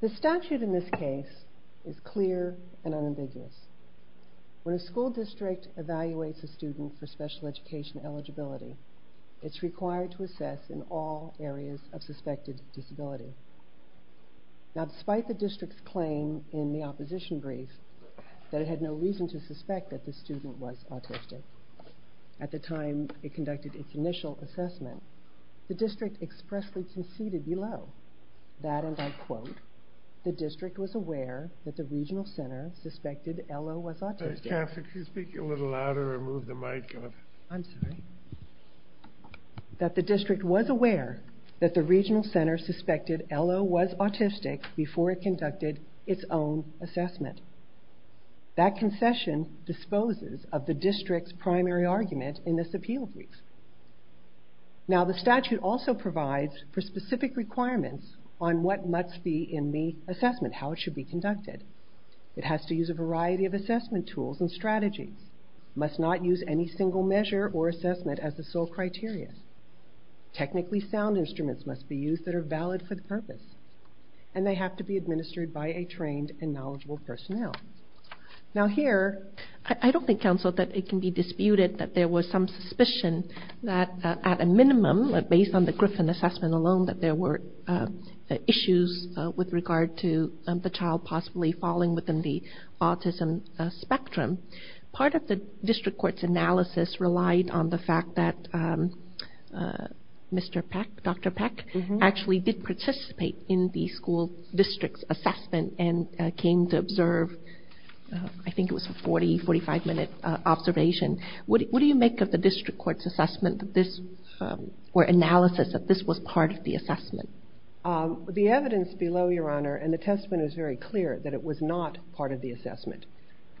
The statute in this case is clear and unambiguous. When a school district evaluates a student for special education eligibility, it is required to assess in all areas of suspected disability. Now, despite the district's claim in the opposition brief that it had no reason to do so, at the time it conducted its initial assessment, the district expressly conceded below that, and I quote, the district was aware that the regional center suspected Ello was autistic before it conducted its own assessment. That concession disposes of the district's primary argument in this appeal brief. Now, the statute also provides for specific requirements on what must be in the assessment, how it should be conducted. It has to use a variety of assessment tools and strategies. It must not use any single measure or assessment as the sole criteria. Technically sound instruments must be used that are valid for the purpose, and they have to be administered by a trained and knowledgeable personnel. Now here, I don't think, counsel, that it can be disputed that there was some suspicion that at a minimum, based on the Griffin assessment alone, that there were issues with regard to the child possibly falling within the autism spectrum. Part of the district court's analysis relied on the fact that Mr. Peck, Dr. Peck, actually did participate in the school district's assessment and came to observe, I think it was a 40, 45-minute observation. What do you make of the district court's assessment that this, or analysis, that this was part of the assessment? The evidence below, Your Honor, and the testament is very clear that it was not part of the assessment.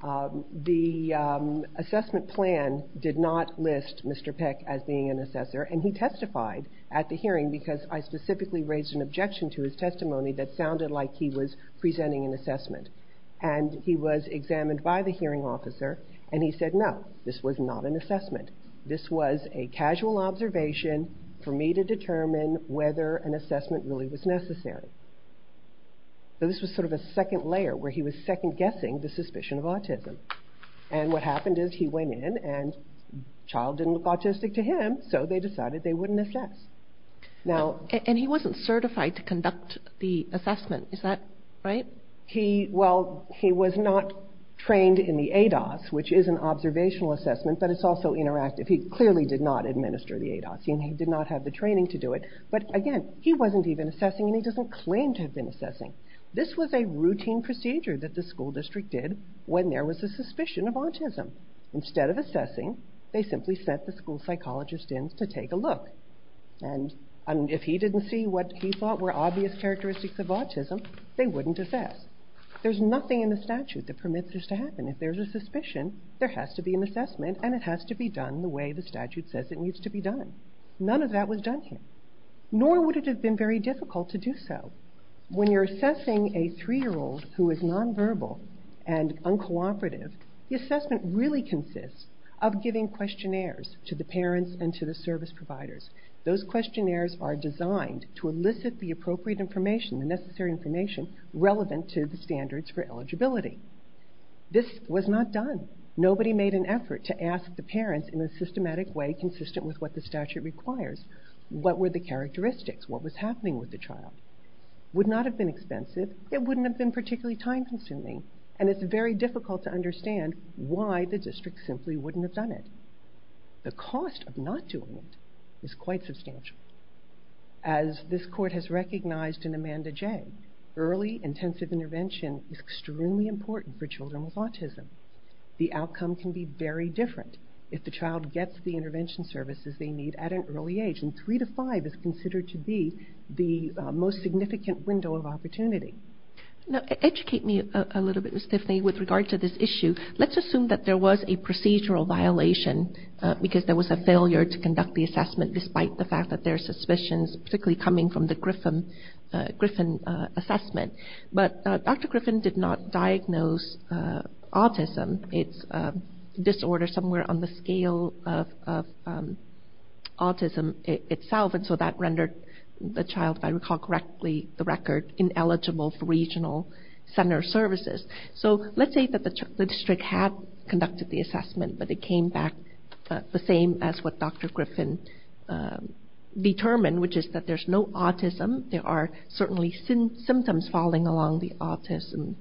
The assessment plan did not list Mr. Peck as being an assessor, and he testified at the hearing because I specifically raised an objection to his testimony that sounded like he was presenting an assessment. And he was examined by the hearing officer, and he said, no, this was not an assessment. This was a casual observation for me to determine whether an assessment really was necessary. So this was sort of a second layer, where he was second-guessing the suspicion of autism. And what happened is he went in, and the child didn't look autistic to him, so they decided they wouldn't assess. And he wasn't certified to conduct the assessment, is that right? He, well, he was not trained in the ADOS, which is an observational assessment, but it's also interactive. He clearly did not administer the ADOS, and he did not have the training to do it. But again, he wasn't even assessing, and he doesn't claim to have been assessing. This was a routine procedure that the school district did when there was a suspicion of autism. Instead of assessing, they simply sent the school psychologist in to take a look. And if he didn't see what he thought were obvious characteristics of autism, they wouldn't assess. There's nothing in the statute that permits this to happen. If there's a suspicion, there has to be an assessment, and it has to be done the way the statute says it needs to be done. None of that was done here, nor would it have been very difficult to do so. When you're assessing a three-year-old who is nonverbal and uncooperative, the assessment really consists of giving questionnaires to the parents and to the service providers. Those questionnaires are designed to elicit the appropriate information, the necessary information relevant to the standards for eligibility. This was not done. Nobody made an effort to ask the parents in a systematic way consistent with what the statute requires, what were the characteristics, what was happening with the child. It would not have been expensive, it wouldn't have been particularly time-consuming, and it's very difficult to understand why the district simply wouldn't have done it. The cost of not doing it is quite substantial. As this court has recognized in Amanda J., early intensive intervention is extremely important for children with autism. The outcome can be very different if the child gets the intervention. Three to five is considered to be the most significant window of opportunity. Educate me a little bit, Ms. Tiffany, with regard to this issue. Let's assume that there was a procedural violation because there was a failure to conduct the assessment despite the fact that there are suspicions, particularly coming from the Griffin assessment. But Dr. Griffin did not diagnose autism. It's a disorder somewhere on the scale of autism. It's not the district itself, and so that rendered the child, if I recall correctly, the record ineligible for regional center services. So let's say that the district had conducted the assessment, but it came back the same as what Dr. Griffin determined, which is that there's no autism. There are certainly symptoms falling along the autism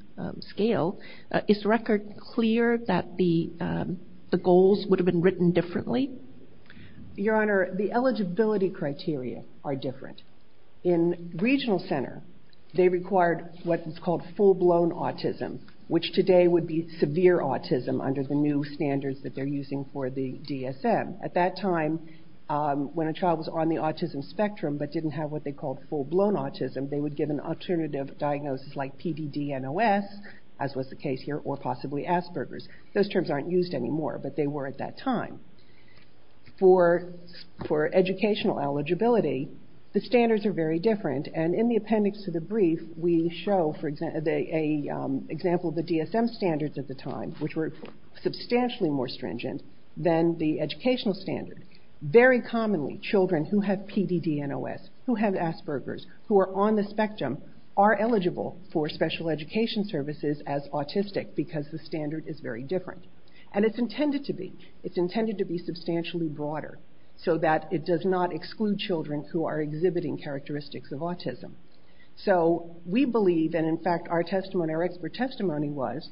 scale. Is the record clear that the goals would have been written differently? Your Honor, the eligibility criteria are different. In regional center, they required what is called full-blown autism, which today would be severe autism under the new standards that they're using for the DSM. At that time, when a child was on the autism spectrum but didn't have what they called full-blown autism, they would get an alternative diagnosis like PDD-NOS, as was the case here, or possibly Asperger's. Those terms aren't used anymore, but they were at that time. For educational eligibility, the standards are very different, and in the appendix to the brief, we show an example of the DSM standards at the time, which were substantially more stringent than the educational standards. Very commonly, children who have PDD-NOS, who have Asperger's, who are on the spectrum, are eligible for special education services as autistic because the standard is very different. It's intended to be. It's intended to be substantially broader so that it does not exclude children who are exhibiting characteristics of autism. We believe, and in fact, our expert testimony was,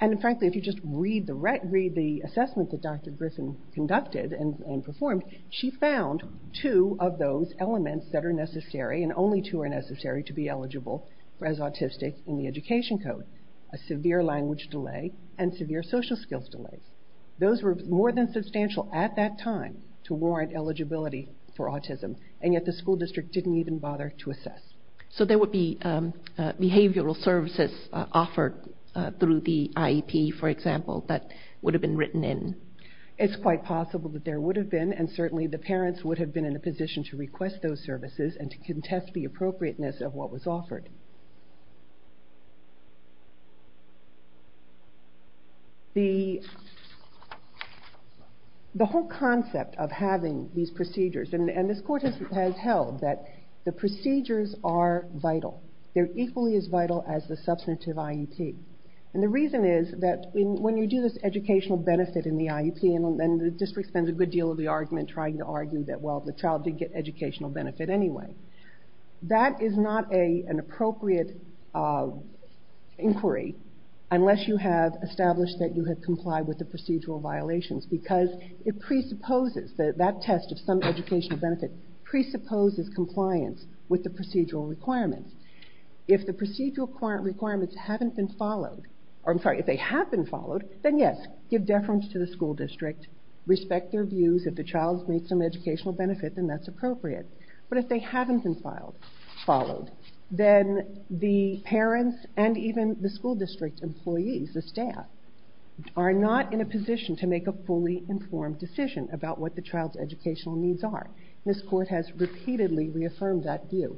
and frankly, if you just read the assessment that Dr. Griffin conducted and performed, she found two of those elements that are necessary, and only two are necessary to be eligible as autistic in the education code, a severe language delay and severe social skills delay. Those were more than substantial at that time to warrant eligibility for autism, and yet the school district didn't even bother to assess. So there would be behavioral services offered through the IEP, for example, that would have been written in? It's quite possible that there would have been, and certainly the parents would have been in a position to request those services and to contest the appropriateness of what was offered. The whole concept of having these procedures, and this court has held that the procedures are vital. They're equally as vital as the substantive IEP, and the reason is that when you do this educational benefit in the IEP, and the district spends a good deal of the argument trying to argue that, well, the child did get educational benefit anyway, that is not an appropriate inquiry unless you have established that you have complied with the procedural violations, because it presupposes that that test of some educational benefit presupposes compliance with the procedural requirements. If the procedural requirements haven't been followed, or I'm sorry, if they have been followed, then yes, give deference to the school district, respect their views, if the child's made some educational benefit, then that's appropriate. But if they haven't been followed, then the parents and even the school district employees, the staff, are not in a position to make a fully informed decision about what the child's educational needs are, and this court has repeatedly reaffirmed that view.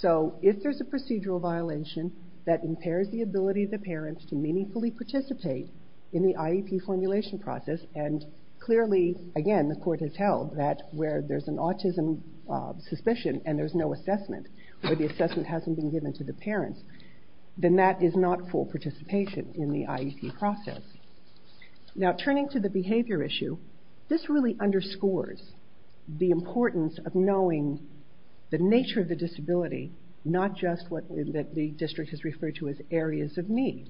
So if there's a procedural violation that impairs the ability of the parents to meaningfully participate in the IEP formulation process, and clearly, again, the court has held that where there's an autism suspicion and there's no assessment, where the assessment hasn't been given to the parents, then that is not full participation in the IEP process. Now, turning to the behavior issue, this really underscores the importance of knowing the nature of the disability, not just what the district has referred to as areas of need.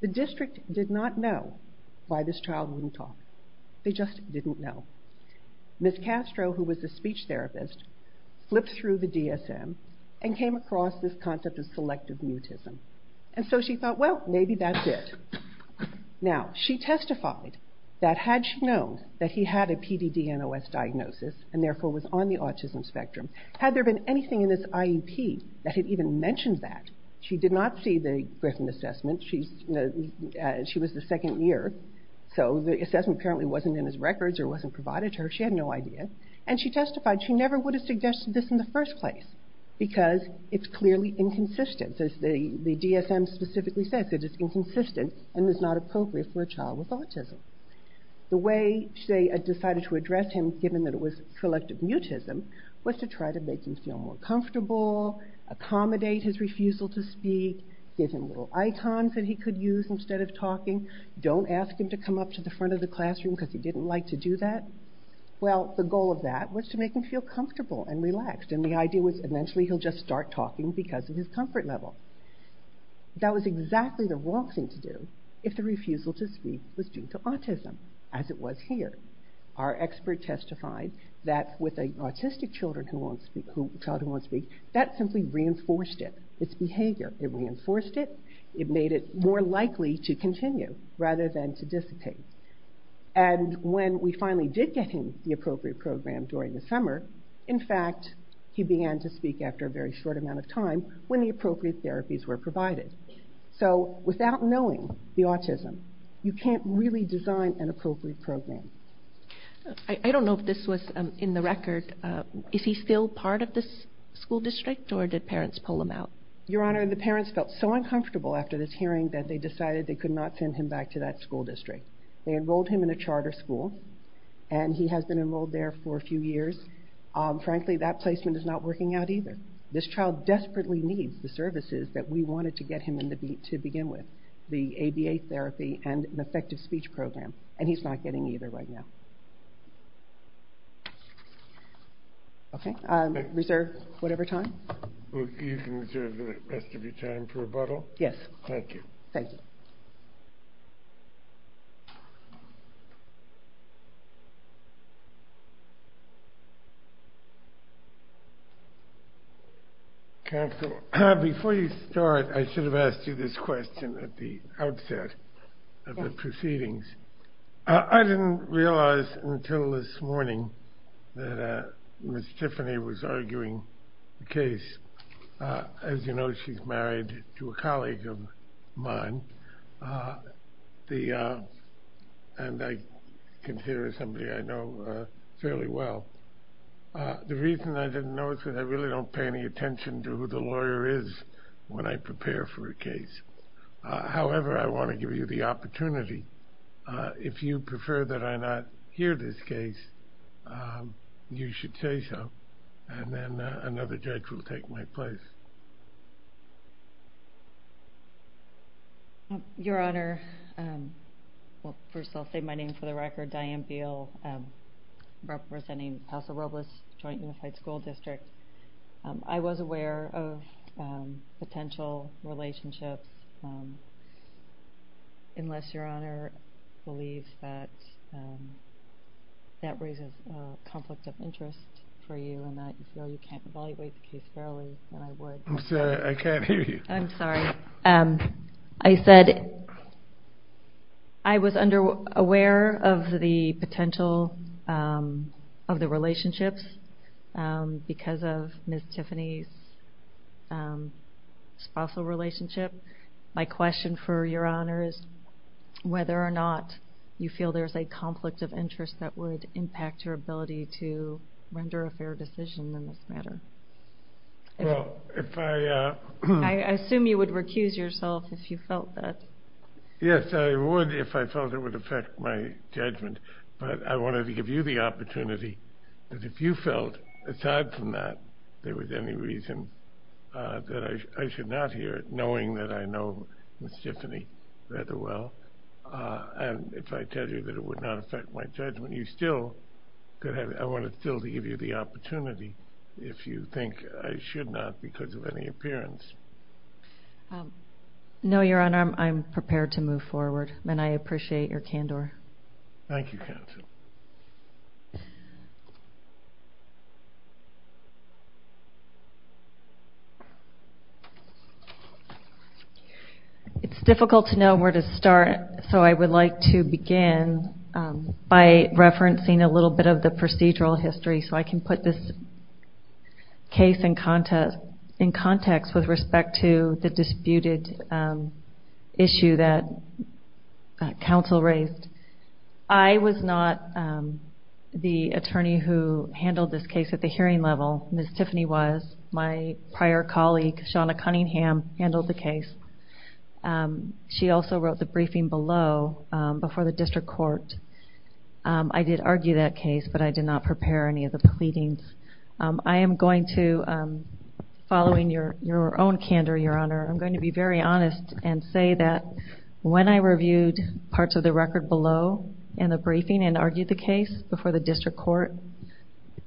The district did not know why this child wouldn't talk. They just didn't know. Ms. Castro, who was a speech therapist, flipped through the DSM and came across this concept of selective mutism, and so she thought, well, maybe that's it. Now, she testified that had she known that he had a PDD-NOS diagnosis and therefore was on the autism spectrum, had there been anything in this IEP that had even mentioned that, she did not see the Griffin assessment. She was the second year, so the assessment apparently wasn't in his records or wasn't provided to her. She had no idea. And she testified she never would have suggested this in the first place because it's clearly inconsistent. As the DSM specifically says, it is inconsistent and is not appropriate for a child with autism. The way they decided to address him, given that it was selective mutism, was to try to make him feel more comfortable, accommodate his refusal to speak, give him little icons that he could use instead of talking, don't ask him to come up to the front of the classroom because he didn't like to do that. Well, the goal of that was to make him feel comfortable and relaxed, and the idea was eventually he'll just start talking because of his comfort level. That was exactly the wrong thing to do if the refusal to speak was due to autism, as it was here. Our expert testified that with an autistic child who won't speak, that simply reinforced it, its behavior. It reinforced it. It made it more likely to continue rather than to dissipate. And when we finally did get him the appropriate program during the summer, in fact, he began to speak after a very short amount of time when the appropriate therapies were provided. So without knowing the autism, you can't really design an appropriate program. I don't know if this was in the record. Is he still part of the school district, or did parents pull him out? Your Honor, the parents felt so uncomfortable after this hearing that they decided they could not send him back to that school district. They enrolled him in a charter school, and he has been enrolled there for a few years. Frankly, that placement is not working out either. This child desperately needs the services that we wanted to get him to begin with, the ABA therapy and an effective speech program, and he's not getting either right now. Okay. Reserve whatever time. You can reserve the rest of your time for rebuttal. Yes. Thank you. Thank you. Counsel, before you start, I should have asked you this question at the outset of the proceedings. I didn't realize until this morning that Ms. Tiffany was arguing the case. As you know, she's married to a colleague of mine, and I consider somebody I know fairly well. The reason I didn't know is because I really don't pay any attention to who the lawyer is when I prepare for a case. However, I want to give you the opportunity. If you prefer that I not hear this case, you should say so, and then another judge will take my place. Your Honor, first I'll say my name for the record, Diane Beal, representing Paso Robles Joint Unified School District. I was aware of potential relationships. Unless Your Honor believes that that raises a conflict of interest for you and that you can't evaluate the case fairly, then I would. I'm sorry. I can't hear you. I'm sorry. I said I was aware of the potential of the relationships because of Ms. Tiffany's spousal relationship. My question for Your Honor is whether or not you feel there's a conflict of interest that would impact your ability to render a fair decision in this matter. I assume you would recuse yourself if you felt that. Yes, I would if I felt it would affect my judgment, but I wanted to give you the opportunity that if you felt, aside from that, there was any reason that I should not hear it, knowing that I know Ms. Tiffany rather well, and if I tell you that it would not affect my judgment, I want to still give you the opportunity if you think I should not because of any appearance. No, Your Honor. I'm prepared to move forward, and I appreciate your candor. Thank you, counsel. It's difficult to know where to start, so I would like to begin by referencing a little bit of the procedural history so I can put this case in context with respect to the disputed issue that counsel raised. I was not the attorney who handled this case at the hearing level. Ms. Tiffany was. My prior colleague, Shauna Cunningham, handled the case. She also wrote the briefing below before the district court. I did argue that case, but I did not prepare any of the pleadings. I am going to, following your own candor, Your Honor, I'm going to be very honest and say that when I reviewed parts of the record below in the briefing and argued the case before the district court,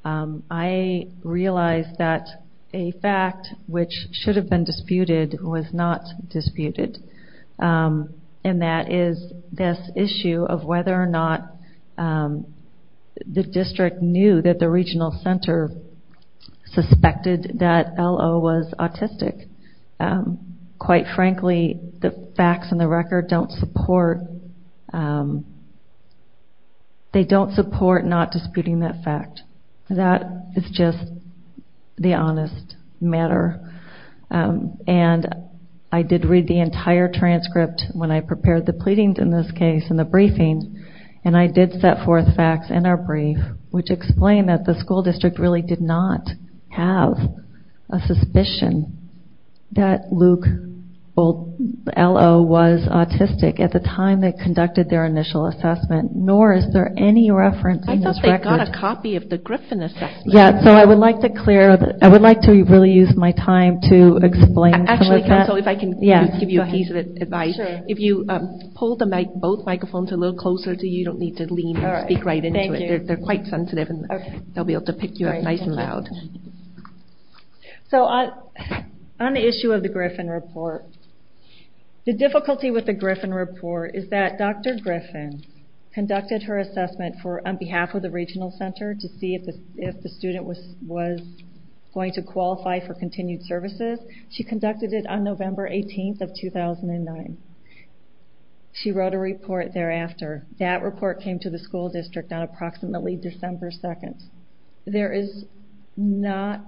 I realized that a fact which should have been disputed was not disputed, and that is this issue of whether or not the district knew that the regional center suspected that L.O. was autistic. Quite frankly, the facts in the record don't support not disputing that fact. That is just the honest matter, and I did read the entire transcript when I prepared the pleadings in this case in the briefing, and I did set forth facts in our brief which explain that the school district really did not have a suspicion that L.O. was autistic at the time they conducted their initial assessment, nor is there any reference in this record. I thought they got a copy of the Griffin assessment. Yeah, so I would like to really use my time to explain some of that. Actually, counsel, if I can give you a piece of advice. If you pull both microphones a little closer to you, you don't need to lean or speak right into it. They're quite sensitive, and they'll be able to pick you up nice and loud. On the issue of the Griffin report, the difficulty with the Griffin report is that Dr. Griffin conducted her assessment on behalf of the regional center to see if the student was going to qualify for continued services. She conducted it on November 18th of 2009. She wrote a report thereafter. That report came to the school district on approximately December 2nd. There is not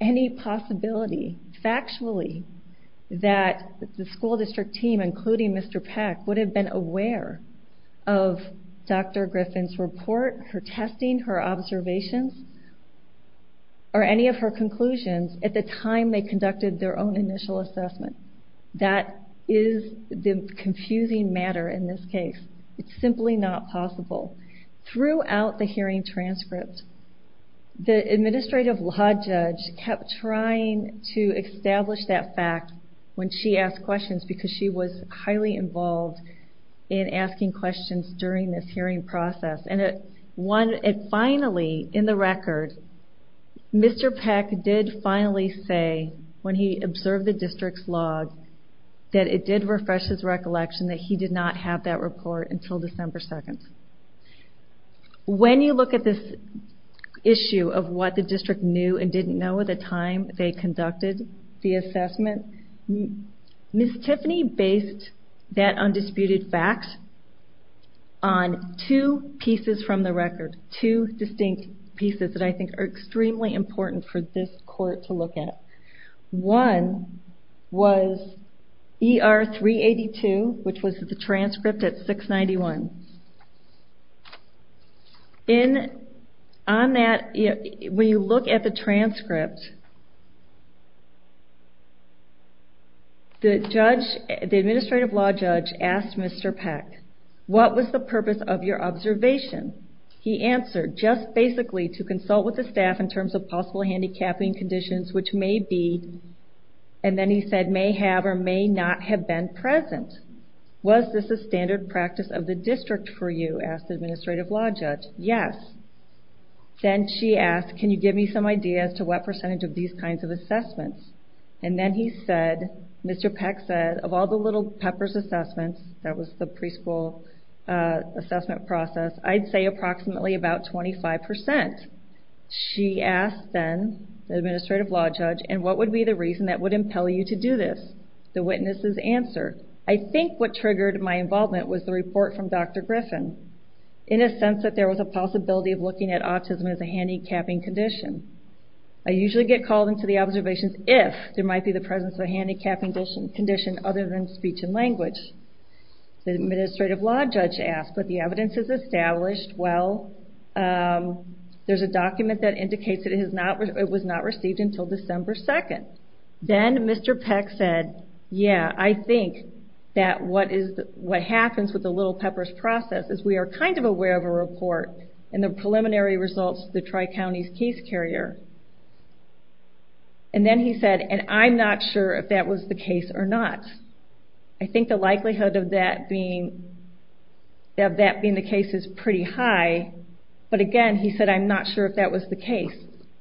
any possibility factually that the school district team, including Mr. Peck, would have been aware of Dr. Griffin's report, her testing, her observations, or any of her conclusions at the time they conducted their own initial assessment. That is the confusing matter in this case. It's simply not possible. Throughout the hearing transcript, the administrative law judge kept trying to establish that fact when she asked questions, because she was highly involved in asking questions during this hearing process. Finally, in the record, Mr. Peck did finally say, when he observed the district's log, that it did refresh his recollection that he did not have that report until December 2nd. When you look at this issue of what the district knew and didn't know at the time they conducted the assessment, Ms. Tiffany based that undisputed fact on two pieces from the record, two distinct pieces that I think are extremely important for this court to look at. One was ER 382, which was the transcript at 691. When you look at the transcript, the administrative law judge asked Mr. Peck, what was the purpose of your observation? He answered, just basically to consult with the staff in terms of possible handicapping conditions which may be, and then he said may have or may not have been present. Was this a standard practice of the district for you, asked the administrative law judge. Yes. Then she asked, can you give me some ideas to what percentage of these kinds of assessments? And then he said, Mr. Peck said, of all the little peppers assessments, that was the preschool assessment process, I'd say approximately about 25%. She asked then, the administrative law judge, and what would be the reason that would impel you to do this? The witnesses answered, I think what triggered my involvement was the report from Dr. Griffin, in a sense that there was a possibility of looking at autism as a handicapping condition. I usually get called into the observations if there might be the presence of a handicapping condition other than speech and language. The administrative law judge asked, but the evidence is established well. There's a document that indicates that it was not received until December 2nd. Then Mr. Peck said, yeah, I think that what happens with the little peppers process is we are kind of aware of a report and the preliminary results of the Tri-Counties case carrier. And then he said, and I'm not sure if that was the case or not. I think the likelihood of that being the case is pretty high. But again, he said, I'm not sure if that was the case.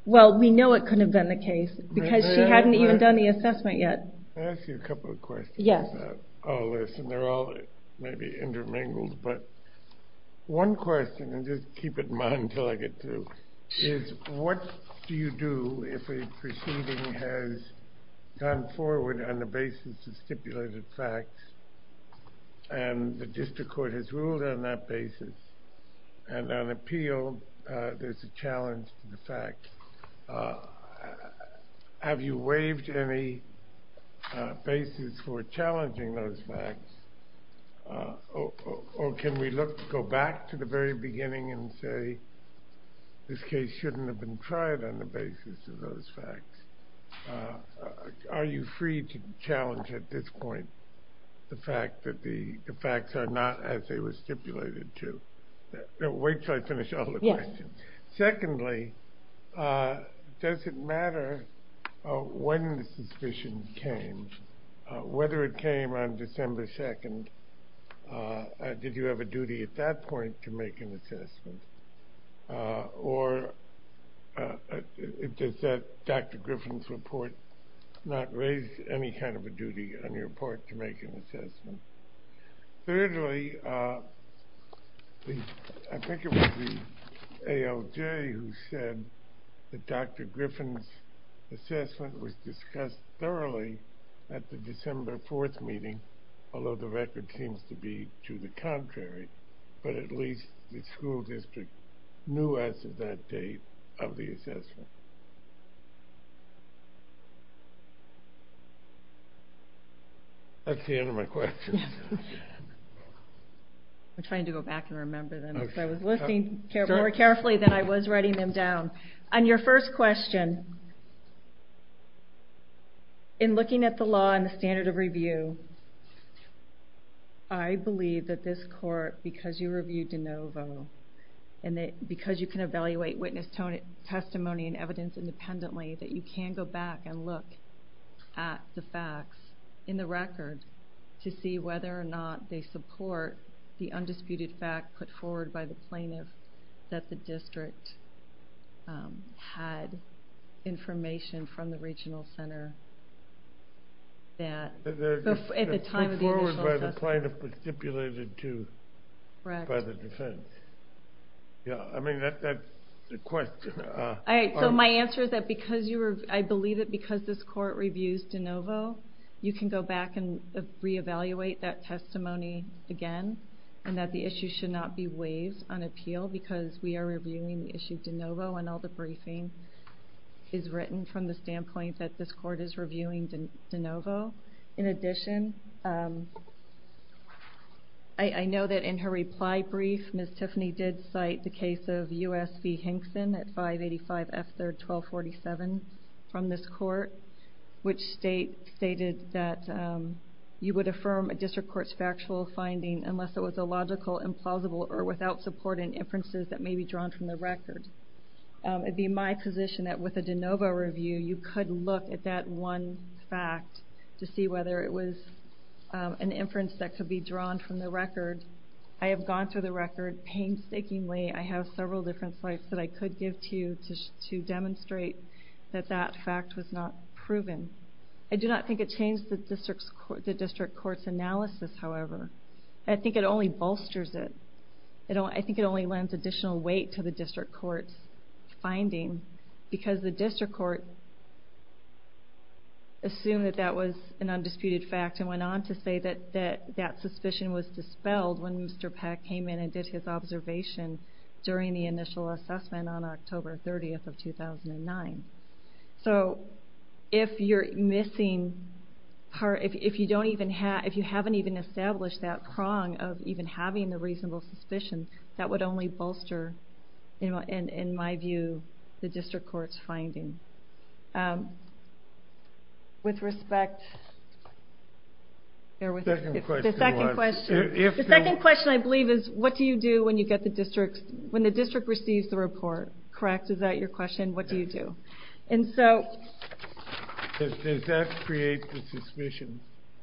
Well, we know it couldn't have been the case, because she hadn't even done the assessment yet. Can I ask you a couple of questions about all this? And they're all maybe intermingled, but one question, and just keep it in mind until I get through, is what do you do if a proceeding has gone forward on the basis of stipulated facts and the district court has ruled on that basis and on appeal there's a challenge to the facts? Have you waived any basis for challenging those facts? Or can we go back to the very beginning and say this case shouldn't have been tried on the basis of those facts? Are you free to challenge at this point the fact that the facts are not as they were stipulated to? Wait until I finish all the questions. Secondly, does it matter when the suspicion came? Whether it came on December 2nd, did you have a duty at that point to make an assessment? Or does that Dr. Griffin's report not raise any kind of a duty on your part to make an assessment? Thirdly, I think it was the ALJ who said that Dr. Griffin's assessment was discussed thoroughly at the December 4th meeting, although the record seems to be to the contrary, but at least the school district knew as of that date of the assessment. That's the end of my questions. I'm trying to go back and remember them. I was listening more carefully than I was writing them down. On your first question, in looking at the law and the standard of review, I believe that this court, because you reviewed de novo, and because you can evaluate witness testimony and evidence independently, that you can go back and look at the facts in the record to see whether or not they support the undisputed fact put forward by the plaintiff that the district had information from the regional center. At the time of the initial assessment. Put forward by the plaintiff, but stipulated by the defense. I mean, that's the question. All right, so my answer is that I believe that because this court reviews de novo, you can go back and reevaluate that testimony again, and that the issue should not be waived on appeal because we are reviewing the issue de novo, and all the briefing is written from the standpoint that this court is reviewing de novo. In addition, I know that in her reply brief, Ms. Tiffany did cite the case of U.S. V. Hinkson at 585 F. 3rd 1247 from this court, which stated that you would affirm a district court's factual finding unless it was illogical, implausible, or without supporting inferences that may be drawn from the record. It would be my position that with a de novo review, you could look at that one fact to see whether it was an inference that could be drawn from the record. I have gone through the record painstakingly. I have several different slides that I could give to you to demonstrate that that fact was not proven. I do not think it changed the district court's analysis, however. I think it only bolsters it. I think it only lends additional weight to the district court's finding because the district court assumed that that was an undisputed fact and went on to say that that suspicion was dispelled when Mr. Peck came in and did his observation during the initial assessment on October 30th of 2009. So if you haven't even established that prong of even having the reasonable suspicion, that would only bolster, in my view, the district court's finding. The second question, I believe, is what do you do when the district receives the report? Is that correct? Is that your question? What do you do? Does that create the suspicion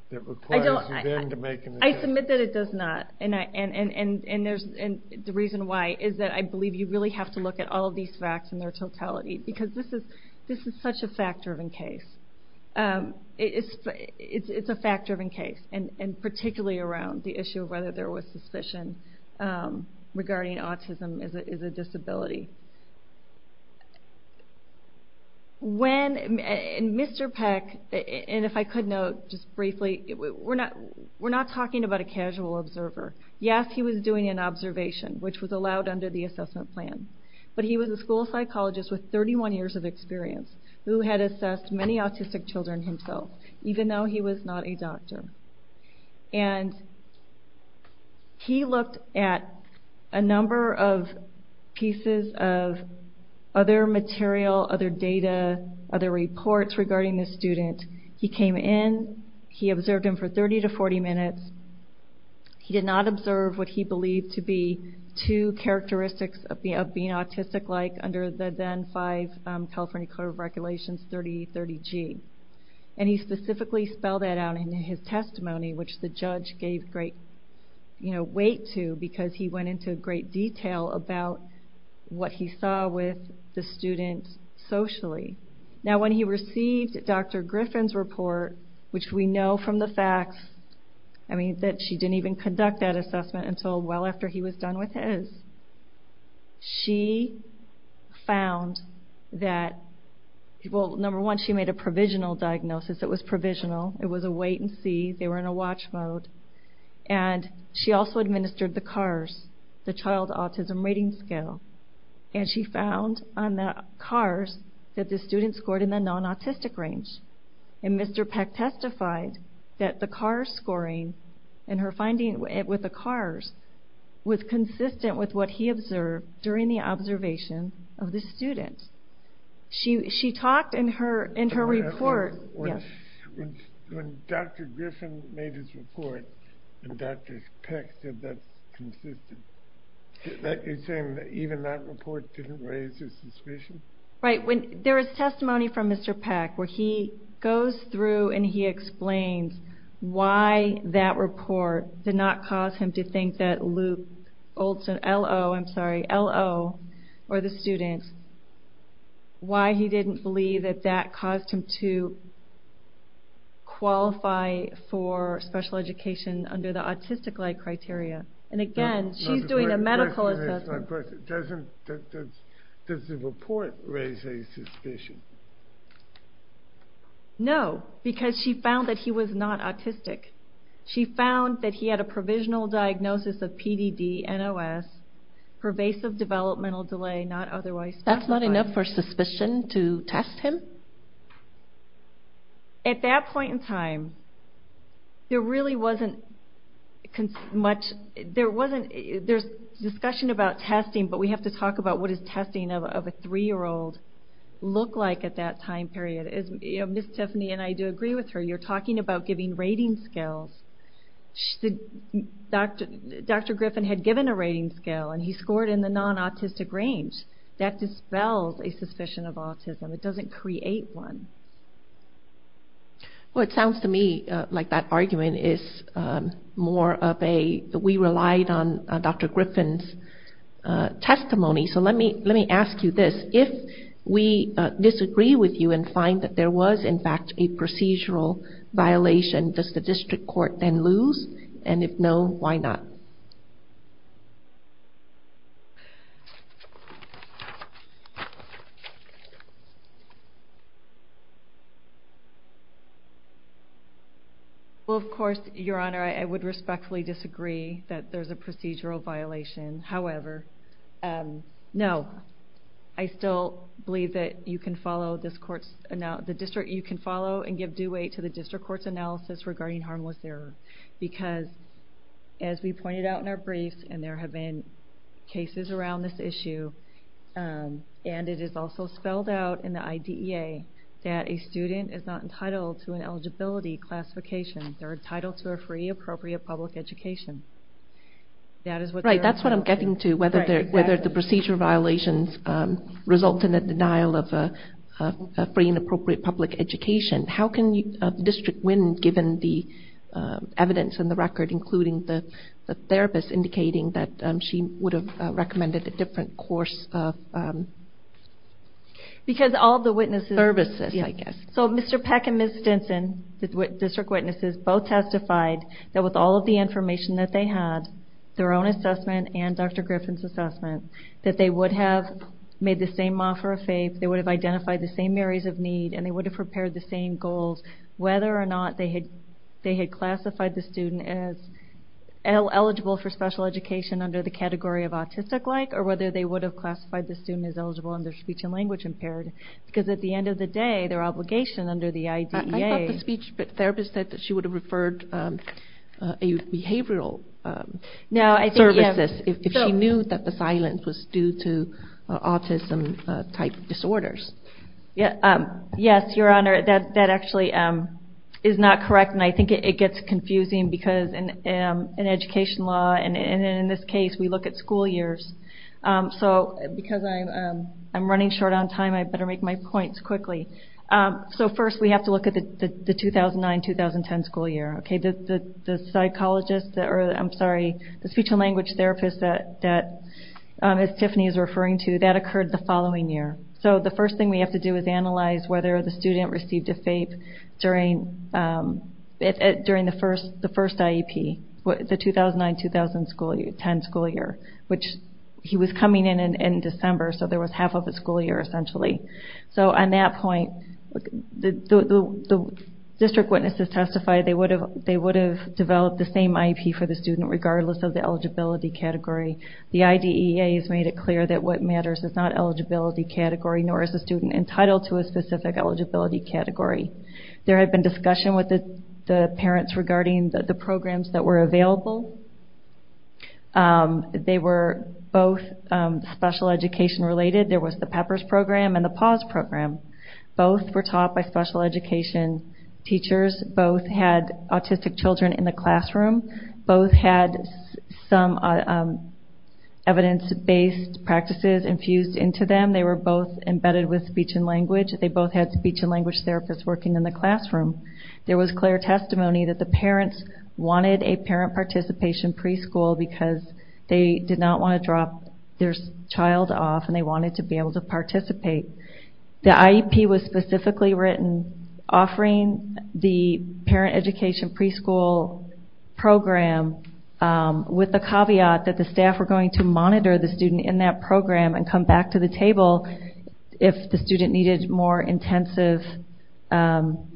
that requires you then to make an assessment? I submit that it does not. The reason why is that I believe you really have to look at all of these facts in their totality because this is such a fact-driven case. It's a fact-driven case, and particularly around the issue of whether there was suspicion regarding autism as a disability. Mr. Peck, and if I could note just briefly, we're not talking about a casual observer. Yes, he was doing an observation, which was allowed under the assessment plan, but he was a school psychologist with 31 years of experience who had assessed many autistic children himself, even though he was not a doctor. And he looked at a number of pieces of other material, other data, other reports regarding this student. He came in. He observed him for 30 to 40 minutes. He did not observe what he believed to be two characteristics of being autistic-like under the then five California Code of Regulations 3030G. And he specifically spelled that out in his testimony, which the judge gave great weight to because he went into great detail about what he saw with the student socially. Now, when he received Dr. Griffin's report, which we know from the facts, I mean, that she didn't even conduct that assessment until well after he was done with his, she found that, well, number one, she made a provisional diagnosis. It was provisional. It was a wait-and-see. They were in a watch mode. And she also administered the CARS, the Child Autism Rating Scale. And she found on that CARS that the student scored in the non-autistic range. And Mr. Peck testified that the CARS scoring and her finding it with the CARS was consistent with what he observed during the observation of the student. She talked in her report. When Dr. Griffin made his report, and Dr. Peck said that's consistent, you're saying that even that report didn't raise his suspicion? Right. There is testimony from Mr. Peck where he goes through and he explains why that report did not cause him to think that Luke Olson, L-O, I'm sorry, L-O, or the student, why he didn't believe that that caused him to qualify for special education under the autistic-like criteria. And again, she's doing a medical assessment. Does the report raise any suspicion? No, because she found that he was not autistic. She found that he had a provisional diagnosis of PDD, NOS, pervasive developmental delay, not otherwise specified. That's not enough for suspicion to test him? At that point in time, there really wasn't much. There's discussion about testing, but we have to talk about what does testing of a three-year-old look like at that time period. Ms. Tiffany and I do agree with her. You're talking about giving rating scales. Dr. Griffin had given a rating scale and he scored in the non-autistic range. That dispels a suspicion of autism. It doesn't create one. Well, it sounds to me like that argument is more of a, we relied on Dr. Griffin's testimony, so let me ask you this. If we disagree with you and find that there was, in fact, a procedural violation, does the district court then lose? And if no, why not? Well, of course, Your Honor, I would respectfully disagree that there's a procedural violation. However, no. I still believe that you can follow this court's, the district you can follow and give due weight to the district court's analysis regarding harmless error. Because, as we pointed out in our briefs, and there have been cases around this issue, and it is also spelled out in the IDEA that a student is not entitled to an eligibility classification. They're entitled to a free, appropriate public education. Right, that's what I'm getting to, whether the procedure violations result in the denial of a free and appropriate public education. How can the district win, given the evidence in the record, including the therapist indicating that she would have recommended a different course of services, I guess. Because all the witnesses, so Mr. Peck and Ms. Stinson, the district witnesses, both testified that with all of the information that they had, their own assessment and Dr. Griffin's assessment, that they would have made the same offer of faith, they would have identified the same areas of need, and they would have prepared the same goals, whether or not they had classified the student as eligible for special education under the category of autistic-like, or whether they would have classified the student as eligible under speech and language impairment. Because at the end of the day, their obligation under the IDEA... I thought the speech therapist said that she would have referred behavioral services if she knew that the silence was due to autism-type disorders. Yes, Your Honor, that actually is not correct, and I think it gets confusing because in education law, and in this case, we look at school years. So, because I'm running short on time, I better make my points quickly. So first, we have to look at the 2009-2010 school year. The psychologist, or I'm sorry, the speech and language therapist that Tiffany is referring to, that occurred the following year. So the first thing we have to do is analyze whether the student received a FAPE during the first IEP, the 2009-2010 school year, which he was coming in in December, so there was half of a school year, essentially. So on that point, the district witnesses testified they would have developed the same IEP for the student regardless of the eligibility category. The IDEA has made it clear that what matters is not eligibility category, nor is the student entitled to a specific eligibility category. There had been discussion with the parents regarding the programs that were available. They were both special education related. There was the PEPPERS program and the PAWS program. Both were taught by special education teachers. Both had autistic children in the classroom. Both had some evidence-based practices infused into them. They were both embedded with speech and language. They both had speech and language therapists working in the classroom. There was clear testimony that the parents wanted a parent participation preschool because they did not want to drop their child off and they wanted to be able to participate. The IEP was specifically written offering the parent education preschool program with the caveat that the staff were going to monitor the student in that program and come back to the table if the student needed more intensive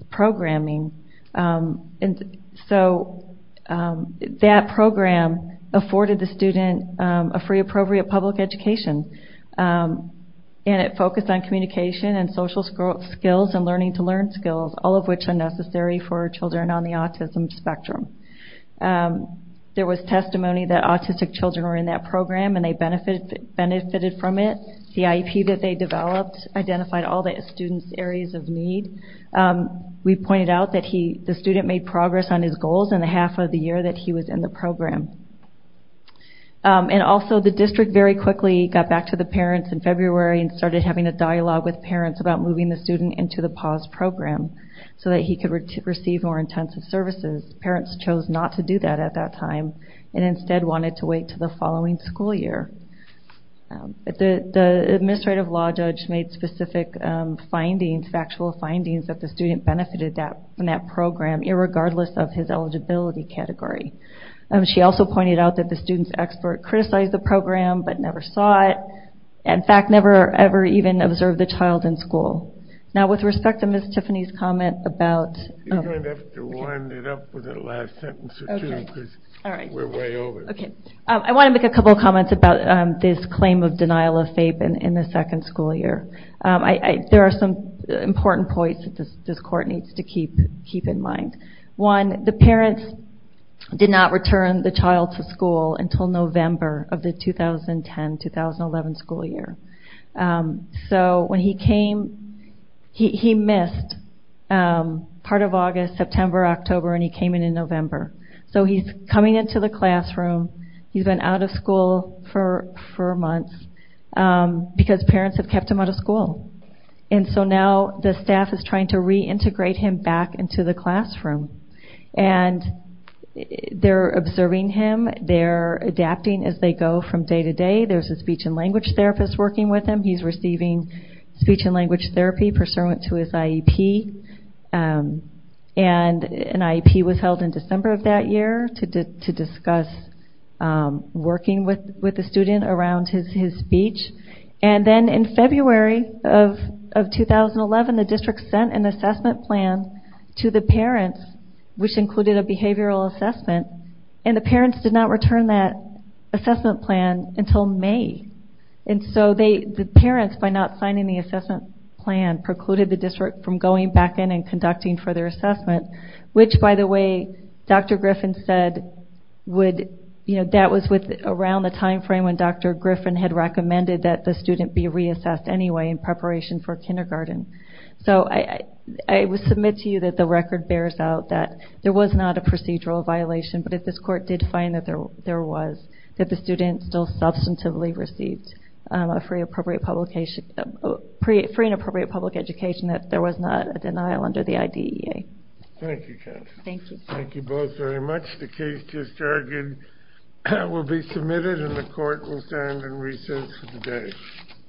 programming. So that program afforded the student a free appropriate public education. It focused on communication and social skills and learning to learn skills, all of which are necessary for children on the autism spectrum. There was testimony that autistic children were in that program and they benefited from it. The IEP that they developed identified all the student's areas of need. We pointed out that the student made progress on his goals in the half of the year that he was in the program. And also the district very quickly got back to the parents in February and started having a dialogue with parents about moving the student into the PAWS program so that he could receive more intensive services. Parents chose not to do that at that time and instead wanted to wait until the following school year. The administrative law judge made specific findings, factual findings that the student benefited from that program irregardless of his eligibility category. She also pointed out that the student's expert criticized the program but never saw it, in fact, never ever even observed the child in school. Now with respect to Ms. Tiffany's comment about... You're going to have to wind it up with a last sentence or two because we're way over. I want to make a couple of comments about this claim of denial of FAPE in the second school year. There are some important points that this court needs to keep in mind. One, the parents did not return the child to school until November of the 2010-2011 school year. So when he came, he missed part of August, September, October, and he came in in November. So he's coming into the classroom, he's been out of school for months because parents have kept him out of school. And so now the staff is trying to reintegrate him back into the classroom. And they're observing him, they're adapting as they go from day to day. There's a speech and language therapist working with him. He's receiving speech and language therapy pursuant to his IEP. And an IEP was held in December of that year to discuss working with the student around his speech. And then in February of 2011, the district sent an assessment plan to the parents, which included a behavioral assessment. And the parents did not return that assessment plan until May. And so the parents, by not signing the assessment plan, precluded the district from going back in and conducting further assessment. Which, by the way, Dr. Griffin said, that was around the time frame when Dr. Griffin had recommended that the student be reassessed anyway in preparation for kindergarten. So I submit to you that the record bears out that there was not a procedural violation. But if this court did find that there was, that the student still substantively received a free and appropriate public education, that there was not a denial under the IDEA. Thank you, Kathy. Thank you. Thank you both very much. The case just argued will be submitted and the court will stand in recess for the day.